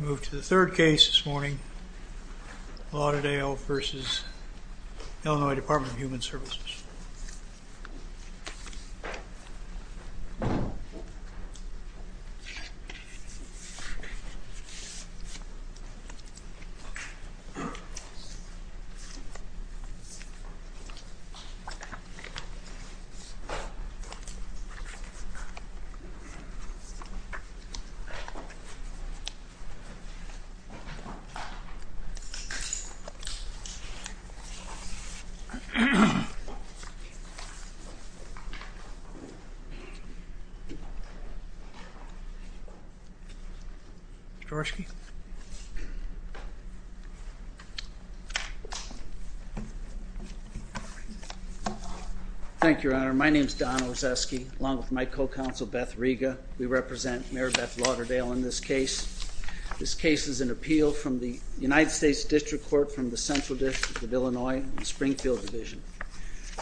We move to the third case this morning, Lauderdale v. Illinois Department of Human Services. Mr. Ozerski? Thank you, Your Honor. My name is Don Ozerski, along with my co-counsel, Beth Riga. We represent Mayor Beth Lauderdale in this case. This case is an appeal from the United States District Court from the Central District of Illinois in the Springfield Division.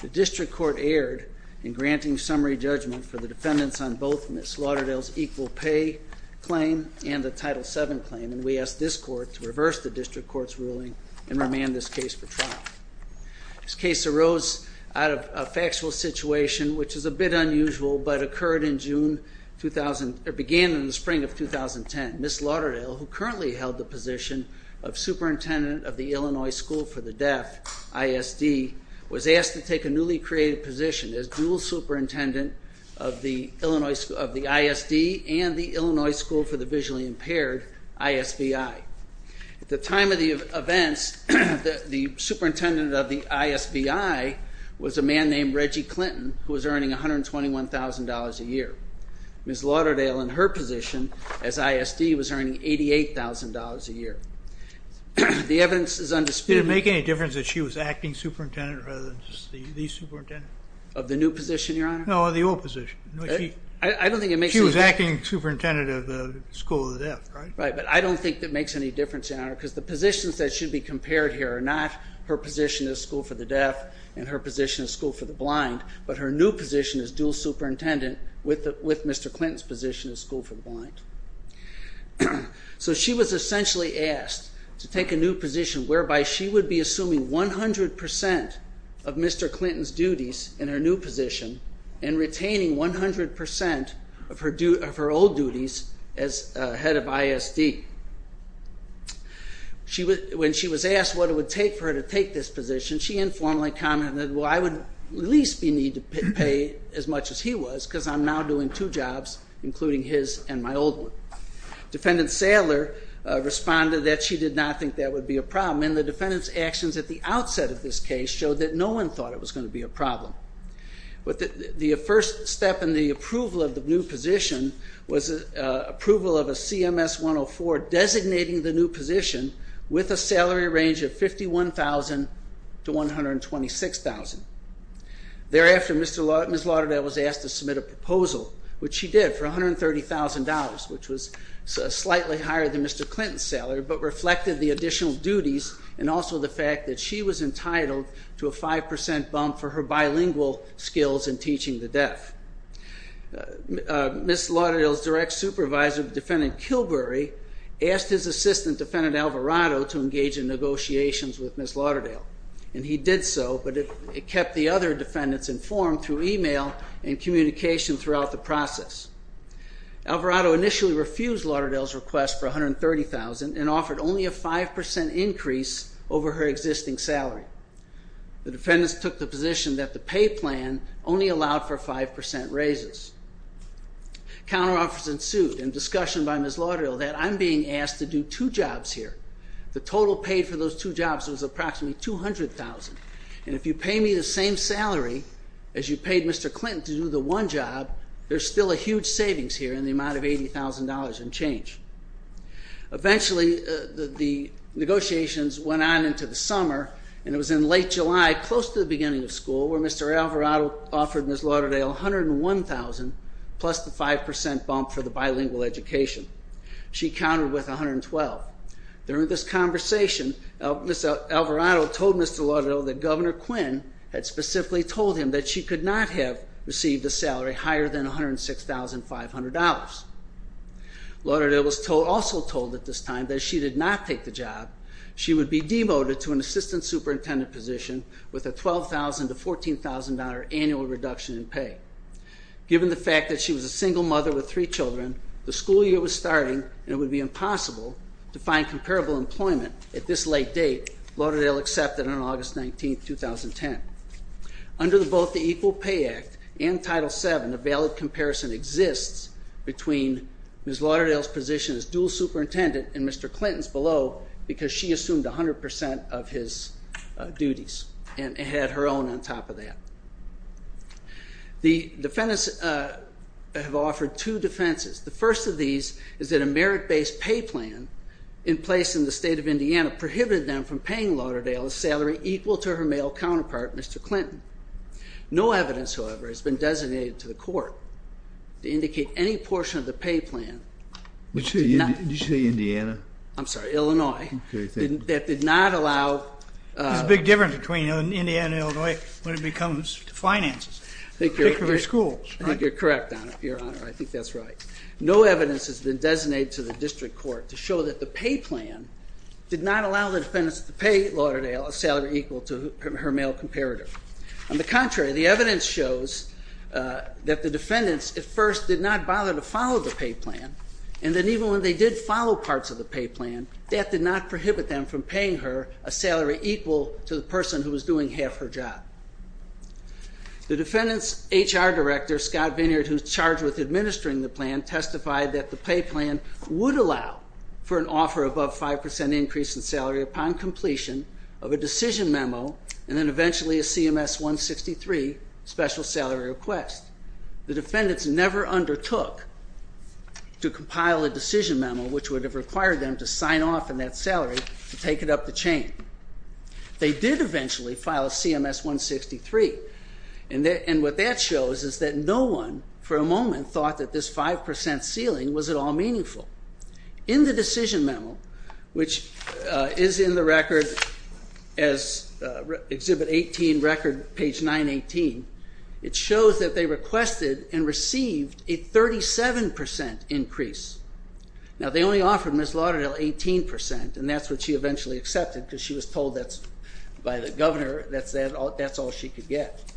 The District Court erred in granting summary judgment for the defendants on both Ms. Lauderdale's equal pay claim and the Title VII claim, and we ask this Court to reverse the District Court's ruling and remand this case for trial. This case arose out of a factual situation, which is a bit unusual, but occurred in June 2000, or began in the Spring of 2010. Ms. Lauderdale, who currently held the position of Superintendent of the Illinois School for the Deaf, ISD, was asked to take a newly created position as dual superintendent of the ISD and the Illinois School for the Visually Impaired, ISBI. At the time of the events, the superintendent of the ISBI was a man named Reggie Clinton, who was earning $121,000 a year. Ms. Lauderdale, in her position as ISD, was earning $88,000 a year. The evidence is undisputed. Did it make any difference that she was acting superintendent rather than just the superintendent? Of the new position, Your Honor? No, of the old position. She was acting superintendent of the School for the Deaf, right? But I don't think that makes any difference, Your Honor, because the positions that should be compared here are not her position as School for the Deaf and her position as School for the Blind, but her new position as dual superintendent with Mr. Clinton's position as School for the Blind. So she was essentially asked to take a new position whereby she would be assuming 100% of Mr. Clinton's duties in her new position and retaining 100% of her old duties as head of ISD. When she was asked what it would take for her to take this position, she informally commented that, well, I would at least be need to pay as much as he was because I'm now doing two jobs, including his and my old one. Defendant Sadler responded that she did not think that would be a problem, and the defendant's actions at the outset of this case showed that no one thought it was going to be a problem. But the first step in the approval of the new position was approval of a CMS-104 designating the new position with a salary range of $51,000 to $126,000. Thereafter, Ms. Lauderdale was asked to submit a proposal, which she did, for $130,000, which was slightly higher than Mr. Clinton's salary, but reflected the additional duties and also the fact that she was entitled to a 5% bump for her bilingual skills in teaching the deaf. Ms. Lauderdale's direct supervisor, Defendant Kilbury, asked his assistant, Defendant Alvarado, to engage in negotiations with Ms. Lauderdale, and he did so, but it kept the other defendants informed through email and communication throughout the process. Alvarado initially refused Lauderdale's request for $130,000 and offered only a 5% increase over her existing salary. The defendants took the position that the pay plan only allowed for 5% raises. Counteroffers ensued, and discussion by Ms. Lauderdale that I'm being asked to do two jobs here. The total paid for those two jobs was approximately $200,000, and if you pay me the same salary as you paid Mr. Clinton to do the one job, there's still a huge savings here in the amount of $80,000 and change. Eventually, the negotiations went on into the summer, and it was in late July, close to the beginning of school, where Mr. Alvarado offered Ms. Lauderdale $101,000 plus the 5% bump for the bilingual education. She counted with $112,000. During this conversation, Ms. Alvarado told Mr. Lauderdale that Governor Quinn had specifically told him that she could not have received a salary higher than $106,500. Lauderdale was also told at this time that if she did not take the job, she would be demoted to an assistant superintendent position with a $12,000 to $14,000 annual reduction in pay. Given the fact that she was a single mother with three children, the school year was starting, and it would be impossible to find comparable employment at this late date, Lauderdale accepted on August 19, 2010. Under both the Equal Pay Act and Title VII, a valid comparison exists between Ms. Lauderdale's position as dual superintendent and Mr. Clinton's below, because she assumed 100% of his duties and had her own on top of that. The defendants have offered two defenses. The first of these is that a merit-based pay plan in place in the state of Indiana prohibited them from paying Lauderdale a salary equal to her male counterpart, Mr. Clinton. No evidence, however, has been designated to the court to indicate any portion of the pay plan... Did you say Indiana? I'm sorry, Illinois, that did not allow... There's a big difference between Indiana and Illinois when it comes to finances, particularly schools. I think you're correct, Your Honor. I think that's right. No evidence has been designated to the district court to show that the pay plan did not allow the defendants to pay Lauderdale a salary equal to her male comparator. On the contrary, the evidence shows that the defendants at first did not bother to follow the pay plan, and then even when they did follow parts of the pay plan, that did not prohibit them from paying her a salary equal to the person who was doing half her job. The defendant's HR director, Scott Vineyard, who's charged with administering the plan, testified that the pay plan would allow for an offer above 5% increase in salary upon completion of a decision memo, and then eventually a CMS-163 special salary request. The defendants never undertook to compile a decision memo, which would have required them to sign off on that salary to take it up the chain. They did eventually file a CMS-163, and what that shows is that no one, for a moment, thought that this 5% ceiling was at all meaningful. In the decision memo, which is in the record as Exhibit 18, record page 918, it shows that they requested and received a 37% increase. Now they only offered Ms. Lauderdale 18%, and that's what she eventually accepted because she was told by the governor that's all she could get.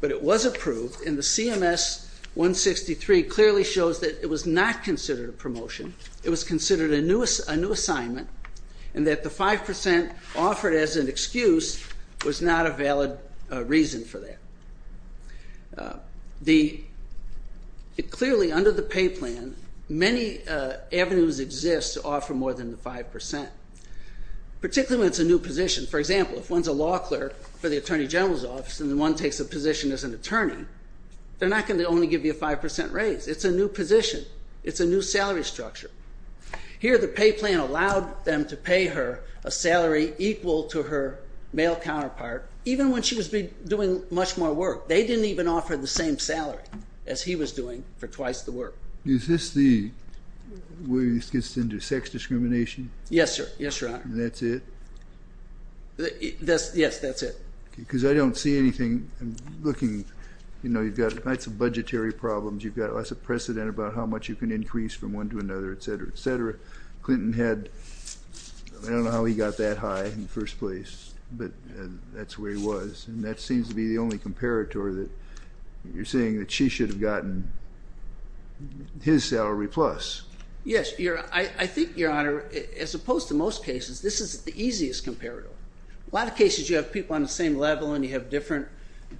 But it was approved, and the CMS-163 clearly shows that it was not considered a promotion. It was considered a new assignment, and that the 5% offered as an excuse was not a valid reason for that. Clearly, under the pay plan, many avenues exist to offer more than the 5%, particularly when it's a new position. For example, if one's a law clerk for the Attorney General's Office and one takes a position as an attorney, they're not going to only give you a 5% raise. It's a new position. It's a new salary structure. Here the pay plan allowed them to pay her a salary equal to her male counterpart, even when she was doing much more work. They didn't even offer the same salary as he was doing for twice the work. Is this the way this gets into sex discrimination? Yes, sir. Yes, Your Honor. And that's it? Yes, that's it. Because I don't see anything. I'm looking. You've got lots of budgetary problems. You've got lots of precedent about how much you can increase from one to another, et cetera, et cetera. Clinton had, I don't know how he got that high in the first place, but that's where he was. And that seems to be the only comparator that you're saying that she should have gotten his salary plus. Yes. I think, Your Honor, as opposed to most cases, this is the easiest comparator. A lot of cases you have people on the same level and you have different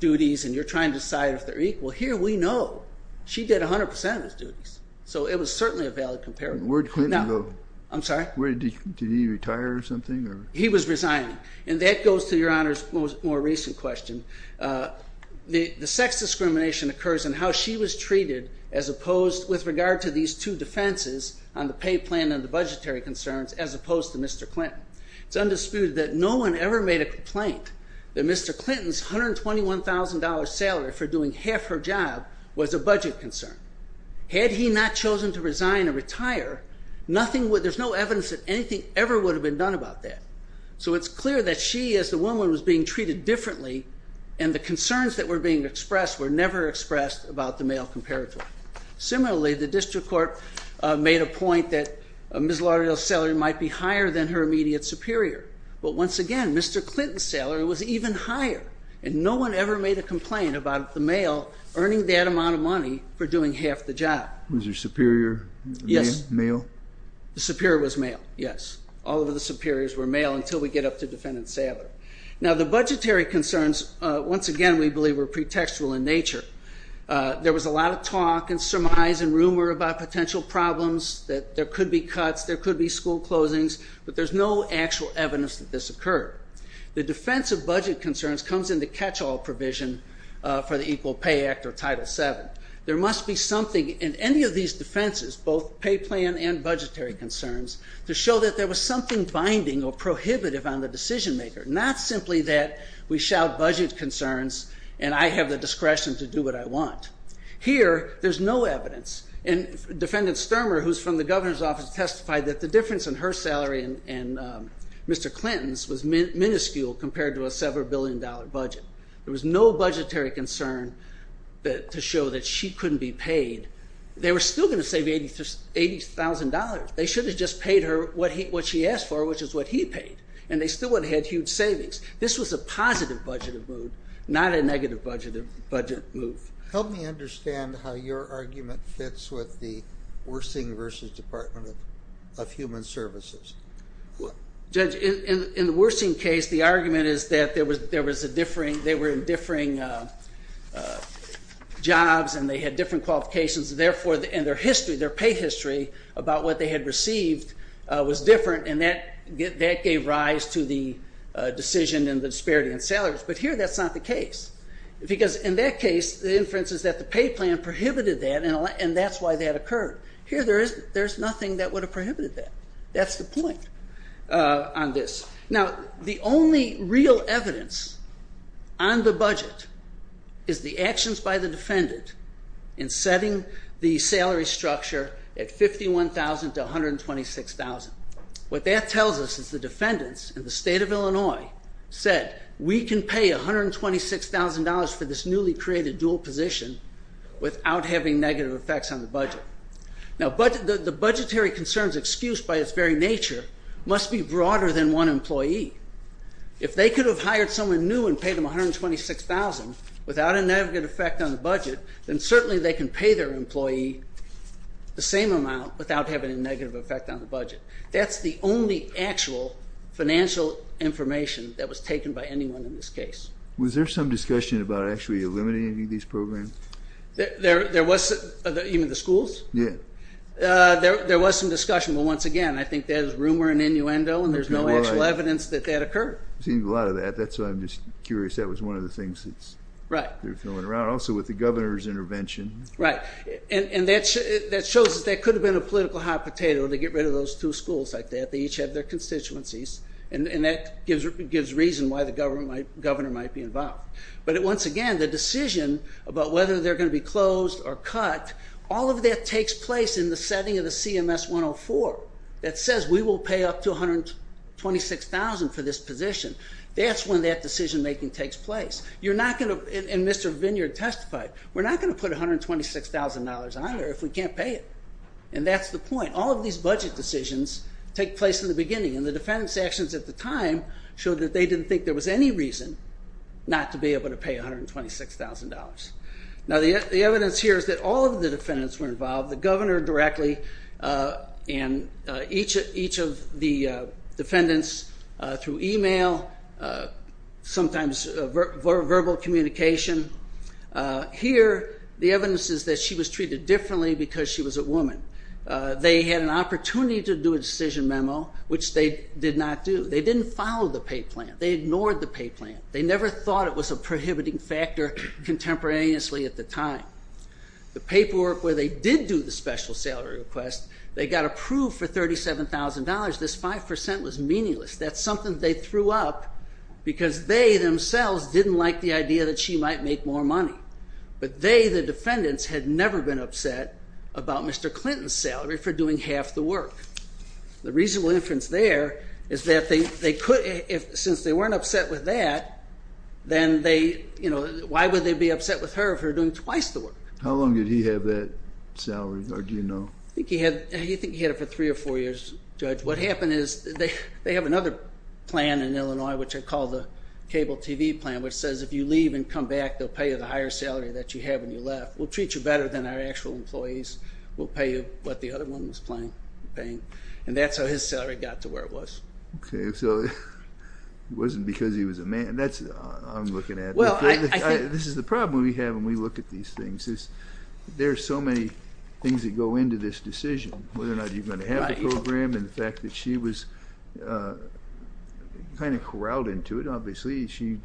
duties and you're trying to decide if they're equal. Here we know she did 100% of his duties. So it was certainly a valid comparator. Where did Clinton go? I'm sorry? Did he retire or something? He was resigning. And that goes to Your Honor's more recent question. The sex discrimination occurs in how she was treated as opposed with regard to these two offenses on the pay plan and the budgetary concerns as opposed to Mr. Clinton. It's undisputed that no one ever made a complaint that Mr. Clinton's $121,000 salary for doing half her job was a budget concern. Had he not chosen to resign or retire, there's no evidence that anything ever would have been done about that. So it's clear that she, as the woman, was being treated differently and the concerns that were being expressed were never expressed about the male comparator. Similarly, the district court made a point that Ms. Lauderdale's salary might be higher than her immediate superior, but once again, Mr. Clinton's salary was even higher and no one ever made a complaint about the male earning that amount of money for doing half the job. Was your superior male? Yes. The superior was male. Yes. All of the superiors were male until we get up to defendant's salary. There was a lot of talk and surmise and rumor about potential problems, that there could be cuts, there could be school closings, but there's no actual evidence that this occurred. The defense of budget concerns comes in the catch-all provision for the Equal Pay Act or Title VII. There must be something in any of these defenses, both pay plan and budgetary concerns, to show that there was something binding or prohibitive on the decision maker, not simply that we do what I want. Here, there's no evidence, and defendant Stermer, who's from the governor's office, testified that the difference in her salary and Mr. Clinton's was minuscule compared to a several billion dollar budget. There was no budgetary concern to show that she couldn't be paid. They were still going to save $80,000. They should have just paid her what she asked for, which is what he paid, and they still would have had huge savings. This was a positive budget move, not a negative budget move. Help me understand how your argument fits with the Wersing v. Department of Human Services. Judge, in the Wersing case, the argument is that they were in differing jobs and they had different qualifications, and therefore their history, their pay history, about what they had received was different, and that gave rise to the decision and the disparity in salaries. But here, that's not the case, because in that case, the inference is that the pay plan prohibited that, and that's why that occurred. Here there's nothing that would have prohibited that. That's the point on this. Now, the only real evidence on the budget is the actions by the defendant in setting the salary structure at $51,000 to $126,000. What that tells us is the defendants in the state of Illinois said, we can pay $126,000 for this newly created dual position without having negative effects on the budget. Now, the budgetary concerns excused by its very nature must be broader than one employee. If they could have hired someone new and paid them $126,000 without a negative effect on the budget, then certainly they can pay their employee the same amount without having a negative effect on the budget. That's the only actual financial information that was taken by anyone in this case. Was there some discussion about actually eliminating these programs? There was. Even the schools? Yeah. There was some discussion, but once again, I think that is rumor and innuendo and there's no actual evidence that that occurred. I've seen a lot of that. That's why I'm just curious. That was one of the things that's been thrown around. Also with the governor's intervention. Right. And that shows us that could have been a political hot potato to get rid of those two schools like that. They each have their constituencies and that gives reason why the governor might be involved. But once again, the decision about whether they're going to be closed or cut, all of that takes place in the setting of the CMS 104 that says we will pay up to $126,000 for this position. That's when that decision making takes place. You're not going to, and Mr. Vineyard testified, we're not going to put $126,000 on there if we can't pay it. And that's the point. All of these budget decisions take place in the beginning and the defendant's actions at the time showed that they didn't think there was any reason not to be able to pay $126,000. Now the evidence here is that all of the defendants were involved. The governor directly and each of the defendants through email, sometimes verbal communication. Here the evidence is that she was treated differently because she was a woman. They had an opportunity to do a decision memo, which they did not do. They didn't follow the pay plan. They ignored the pay plan. They never thought it was a prohibiting factor contemporaneously at the time. The paperwork where they did do the special salary request, they got approved for $37,000. This 5% was meaningless. That's something they threw up because they themselves didn't like the idea that she might make more money. But they, the defendants, had never been upset about Mr. Clinton's salary for doing half the work. The reasonable inference there is that since they weren't upset with that, then why would they be upset with her for doing twice the work? How long did he have that salary, or do you know? I think he had it for three or four years, Judge. What happened is they have another plan in Illinois, which I call the cable TV plan, which says if you leave and come back, they'll pay you the higher salary that you have when you left. We'll treat you better than our actual employees. We'll pay you what the other one was paying. And that's how his salary got to where it was. Okay, so it wasn't because he was a man. That's what I'm looking at. This is the problem we have when we look at these things, is there are so many things that go into this decision, whether or not you're going to have a program, and the fact that she was kind of corralled into it, obviously, she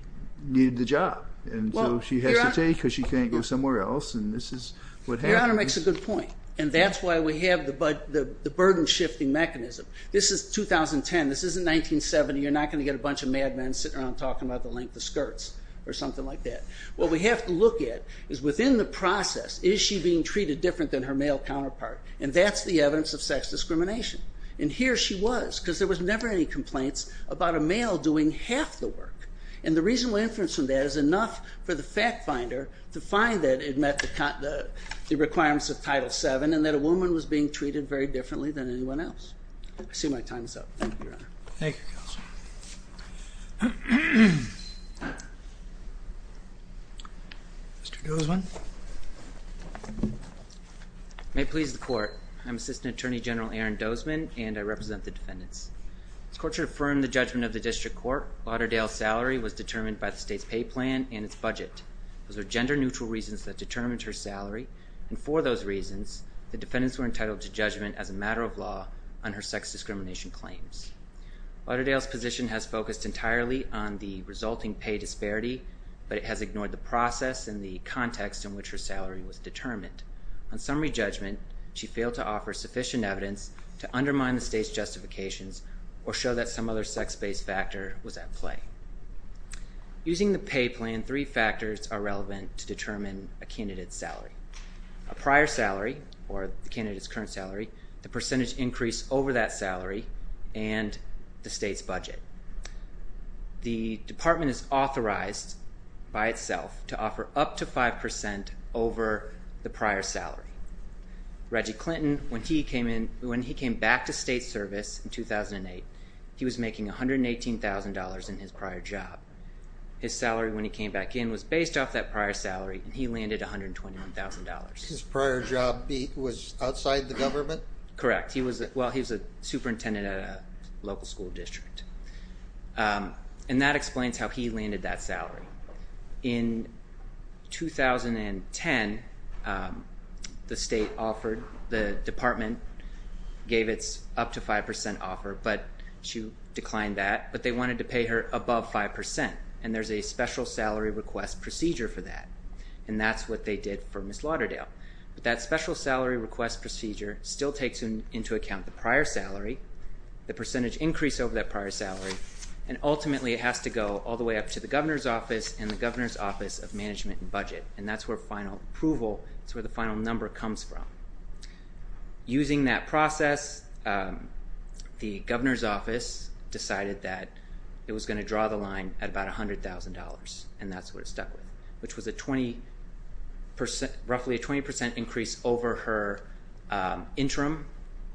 needed the job. And so she has to take because she can't go somewhere else, and this is what happened. Your Honor makes a good point, and that's why we have the burden-shifting mechanism. This is 2010. This isn't 1970. You're not going to get a bunch of madmen sitting around talking about the length of the sentence or something like that. What we have to look at is within the process, is she being treated different than her male counterpart? And that's the evidence of sex discrimination. And here she was, because there was never any complaints about a male doing half the work. And the reasonable inference from that is enough for the fact finder to find that it met the requirements of Title VII and that a woman was being treated very differently than anyone else. I see my time is up. Thank you, Your Honor. Thank you, Counsel. Mr. Dozman? May it please the Court, I'm Assistant Attorney General Aaron Dozman, and I represent the defendants. This Court should affirm the judgment of the District Court, Lauderdale's salary was determined by the state's pay plan and its budget. Those are gender-neutral reasons that determined her salary, and for those reasons, the defendants were entitled to judgment as a matter of law on her sex discrimination claims. Lauderdale's position has focused entirely on the resulting pay disparity, but it has ignored the process and the context in which her salary was determined. On summary judgment, she failed to offer sufficient evidence to undermine the state's justifications or show that some other sex-based factor was at play. Using the pay plan, three factors are relevant to determine a candidate's salary. A prior salary, or the candidate's current salary, the percentage increase over that period, and the state's budget. The Department is authorized by itself to offer up to 5% over the prior salary. Reggie Clinton, when he came back to state service in 2008, he was making $118,000 in his prior job. His salary, when he came back in, was based off that prior salary, and he landed $121,000. His prior job was outside the government? Correct. Correct. Well, he was a superintendent at a local school district. And that explains how he landed that salary. In 2010, the Department gave its up to 5% offer, but she declined that. But they wanted to pay her above 5%, and there's a special salary request procedure for that. And that's what they did for Ms. Lauderdale. That special salary request procedure still takes into account the prior salary, the percentage increase over that prior salary, and ultimately it has to go all the way up to the Governor's Office and the Governor's Office of Management and Budget. And that's where final approval, that's where the final number comes from. Using that process, the Governor's Office decided that it was going to draw the line at about $100,000, and that's what it stuck with, which was roughly a 20% increase over her interim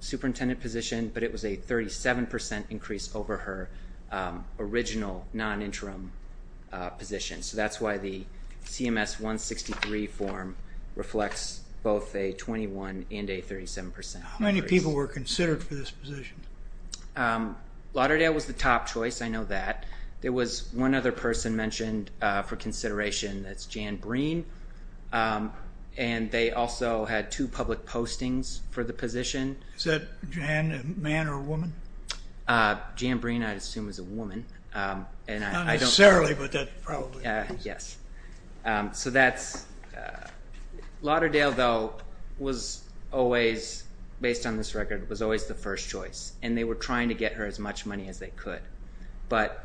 superintendent position, but it was a 37% increase over her original non-interim position. So that's why the CMS-163 form reflects both a 21% and a 37% increase. How many people were considered for this position? Lauderdale was the top choice, I know that. There was one other person mentioned for consideration, that's Jan Breen, and they also had two public postings for the position. Is that Jan, a man or a woman? Jan Breen, I assume, is a woman. Not necessarily, but that probably is. Yes. Lauderdale, though, was always, based on this record, was always the first choice, and they were trying to get her as much money as they could. But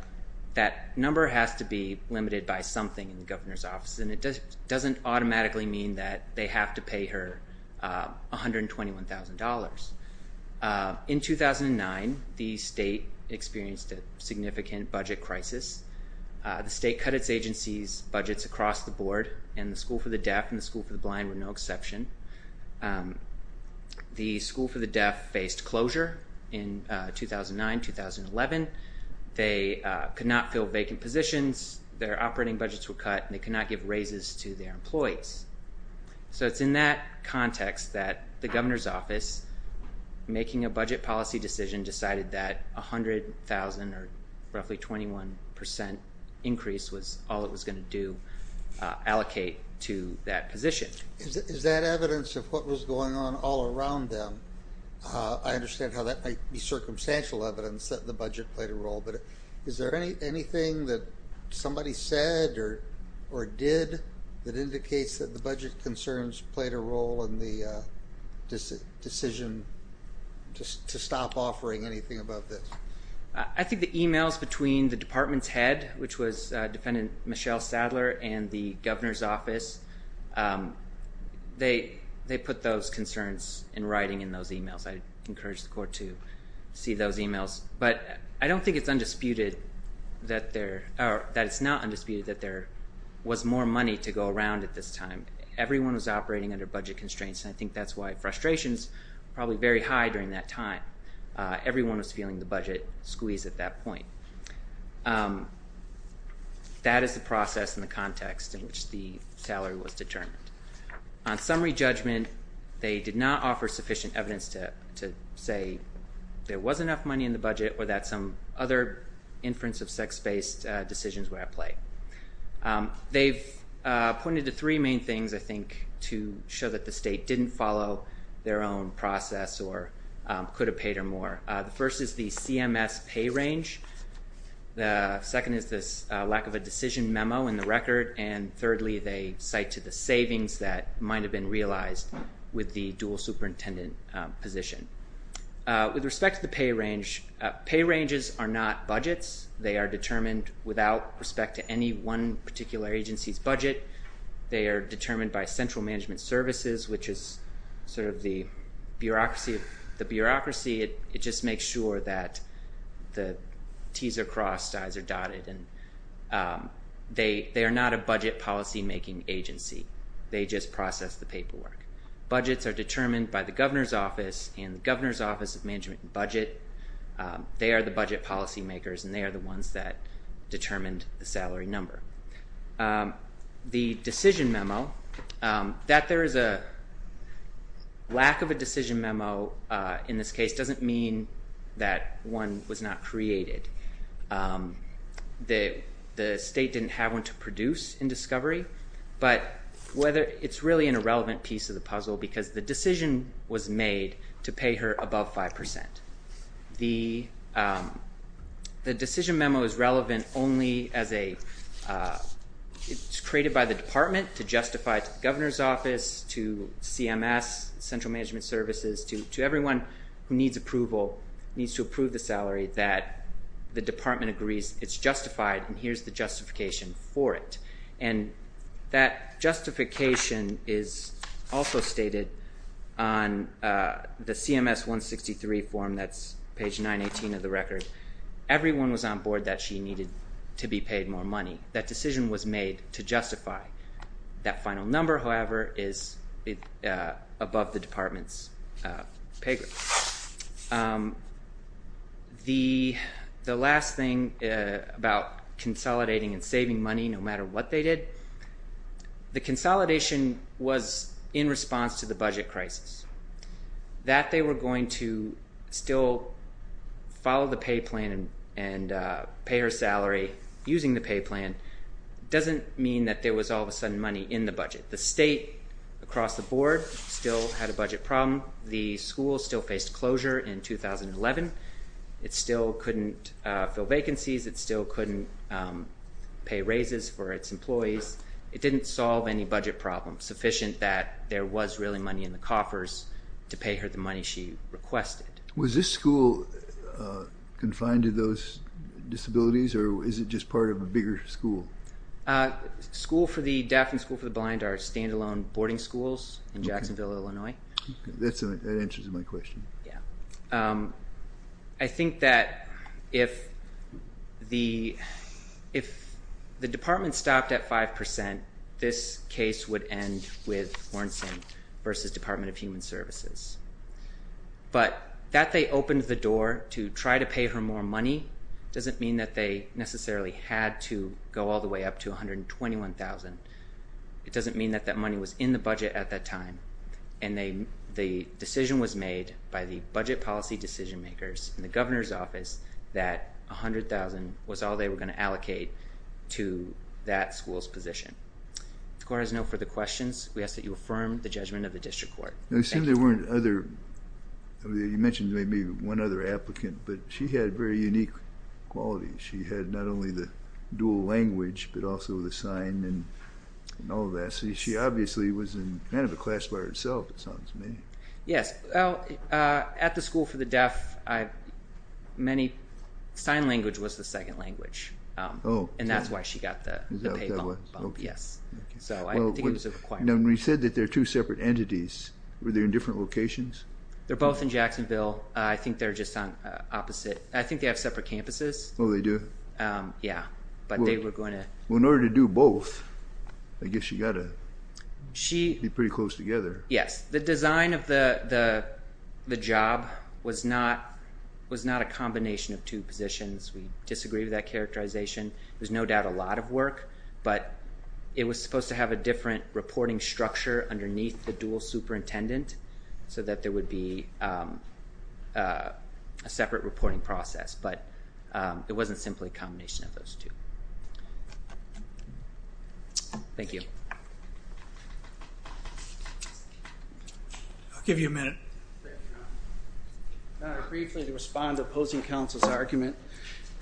that number has to be limited by something in the Governor's Office, and it doesn't automatically mean that they have to pay her $121,000. In 2009, the state experienced a significant budget crisis. The state cut its agency's budgets across the board, and the School for the Deaf and the School for the Blind were no exception. The School for the Deaf faced closure in 2009-2011. They could not fill vacant positions, their operating budgets were cut, and they could not give raises to their employees. So it's in that context that the Governor's Office, making a budget policy decision, decided that $100,000, or roughly 21% increase, was all it was going to do, allocate to that position. Is that evidence of what was going on all around them? I understand how that might be circumstantial evidence that the budget played a role, but is there anything that somebody said or did that indicates that the budget concerns played a role in the decision to stop offering anything about this? I think the emails between the department's head, which was Defendant Michelle Sadler, and the Governor's Office, they put those concerns in writing in those emails. I encourage the court to see those emails. But I don't think it's undisputed that there, or that it's not undisputed that there was more money to go around at this time. Everyone was operating under budget constraints, and I think that's why frustrations were probably very high during that time. Everyone was feeling the budget squeeze at that point. That is the process and the context in which the salary was determined. On summary judgment, they did not offer sufficient evidence to say there was enough money in the budget or that some other inference of sex-based decisions were at play. They've pointed to three main things, I think, to show that the state didn't follow their own process or could have paid her more. The first is the CMS pay range. The second is this lack of a decision memo in the record. And thirdly, they cite to the savings that might have been realized with the dual superintendent position. With respect to the pay range, pay ranges are not budgets. They are determined without respect to any one particular agency's budget. They are determined by central management services, which is sort of the bureaucracy. The bureaucracy, it just makes sure that the T's are crossed, I's are dotted, and they are not a budget policymaking agency. They just process the paperwork. Budgets are determined by the governor's office and the governor's office of management and budget. They are the budget policymakers, and they are the ones that determined the salary number. The decision memo, that there is a lack of a decision memo in this case doesn't mean that one was not created. The state didn't have one to produce in discovery, but it's really an irrelevant piece of the puzzle because the decision was made to pay her above 5%. The decision memo is relevant only as a, it's created by the department to justify to the governor's office, to CMS, central management services, to everyone who needs approval, needs to approve the salary, that the department agrees it's justified, and here's the justification for it. And that justification is also stated on the CMS 163 form that's page 918 of the record. Everyone was on board that she needed to be paid more money. That decision was made to justify. That final number, however, is above the department's pay grade. The last thing about consolidating and saving money no matter what they did, the consolidation was in response to the budget crisis. That they were going to still follow the pay plan and pay her salary using the pay plan doesn't mean that there was all of a sudden money in the budget. The state across the board still had a budget problem. The school still faced closure in 2011. It still couldn't fill vacancies, it still couldn't pay raises for its employees. It didn't solve any budget problems sufficient that there was really money in the coffers to pay her the money she requested. Was this school confined to those disabilities or is it just part of a bigger school? School for the deaf and school for the blind are stand-alone boarding schools in Jacksonville, Illinois. That answers my question. Yeah. I think that if the department stopped at 5%, this case would end with Warrenson versus Department of Human Services. But that they opened the door to try to pay her more money doesn't mean that they necessarily had to go all the way up to $121,000. It doesn't mean that that money was in the budget at that time. And the decision was made by the budget policy decision makers in the governor's office that $100,000 was all they were going to allocate to that school's position. The court has no further questions. We ask that you affirm the judgment of the district court. Thank you. It seemed there weren't other, you mentioned maybe one other applicant, but she had very unique qualities. She had not only the dual language, but also the sign and all of that. She obviously was in kind of a class by herself, it sounds to me. Yes. At the school for the deaf, sign language was the second language. And that's why she got the pay bump. So I think it was a requirement. Now when you said that they're two separate entities, were they in different locations? They're both in Jacksonville. I think they're just on opposite, I think they have separate campuses. Oh, they do? Yeah. But they were going to... Well, in order to do both, I guess you got to be pretty close together. Yes. The design of the job was not a combination of two positions. We disagree with that characterization. It was no doubt a lot of work, but it was supposed to have a different reporting structure underneath the dual superintendent so that there would be a separate reporting process. But it wasn't simply a combination of those two. Thank you. I'll give you a minute. Briefly to respond to opposing counsel's argument.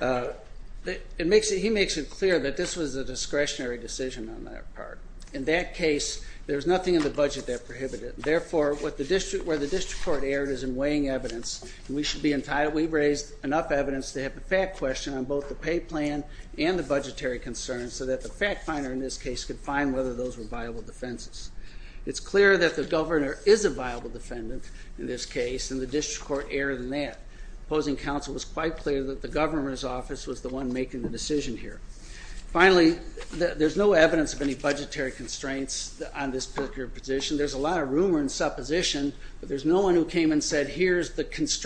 He makes it clear that this was a discretionary decision on that part. In that case, there's nothing in the budget that prohibited it. Therefore, where the district court erred is in weighing evidence, and we should be enough evidence to have a fact question on both the pay plan and the budgetary concerns so that the fact finder in this case could find whether those were viable defenses. It's clear that the governor is a viable defendant in this case, and the district court erred in that. Opposing counsel was quite clear that the governor's office was the one making the decision here. Finally, there's no evidence of any budgetary constraints on this particular position. There's a lot of rumor and supposition, but there's no one who came and said, here's the In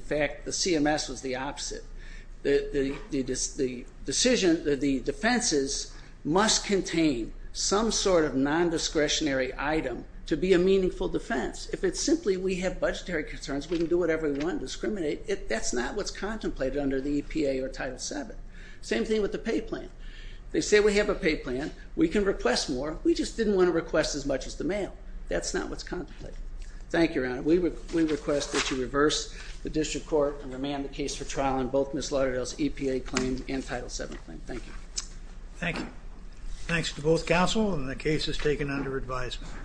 fact, the CMS was the opposite. The decision, the defenses must contain some sort of non-discretionary item to be a meaningful defense. If it's simply we have budgetary concerns, we can do whatever we want to discriminate, that's not what's contemplated under the EPA or Title VII. Same thing with the pay plan. They say we have a pay plan. We can request more. We just didn't want to request as much as the mail. That's not what's contemplated. Thank you, Your Honor. We request that you reverse the district court and remand the case for trial on both Ms. Lauderdale's EPA claim and Title VII claim. Thank you. Thank you. Thanks to both counsel, and the case is taken under advisement.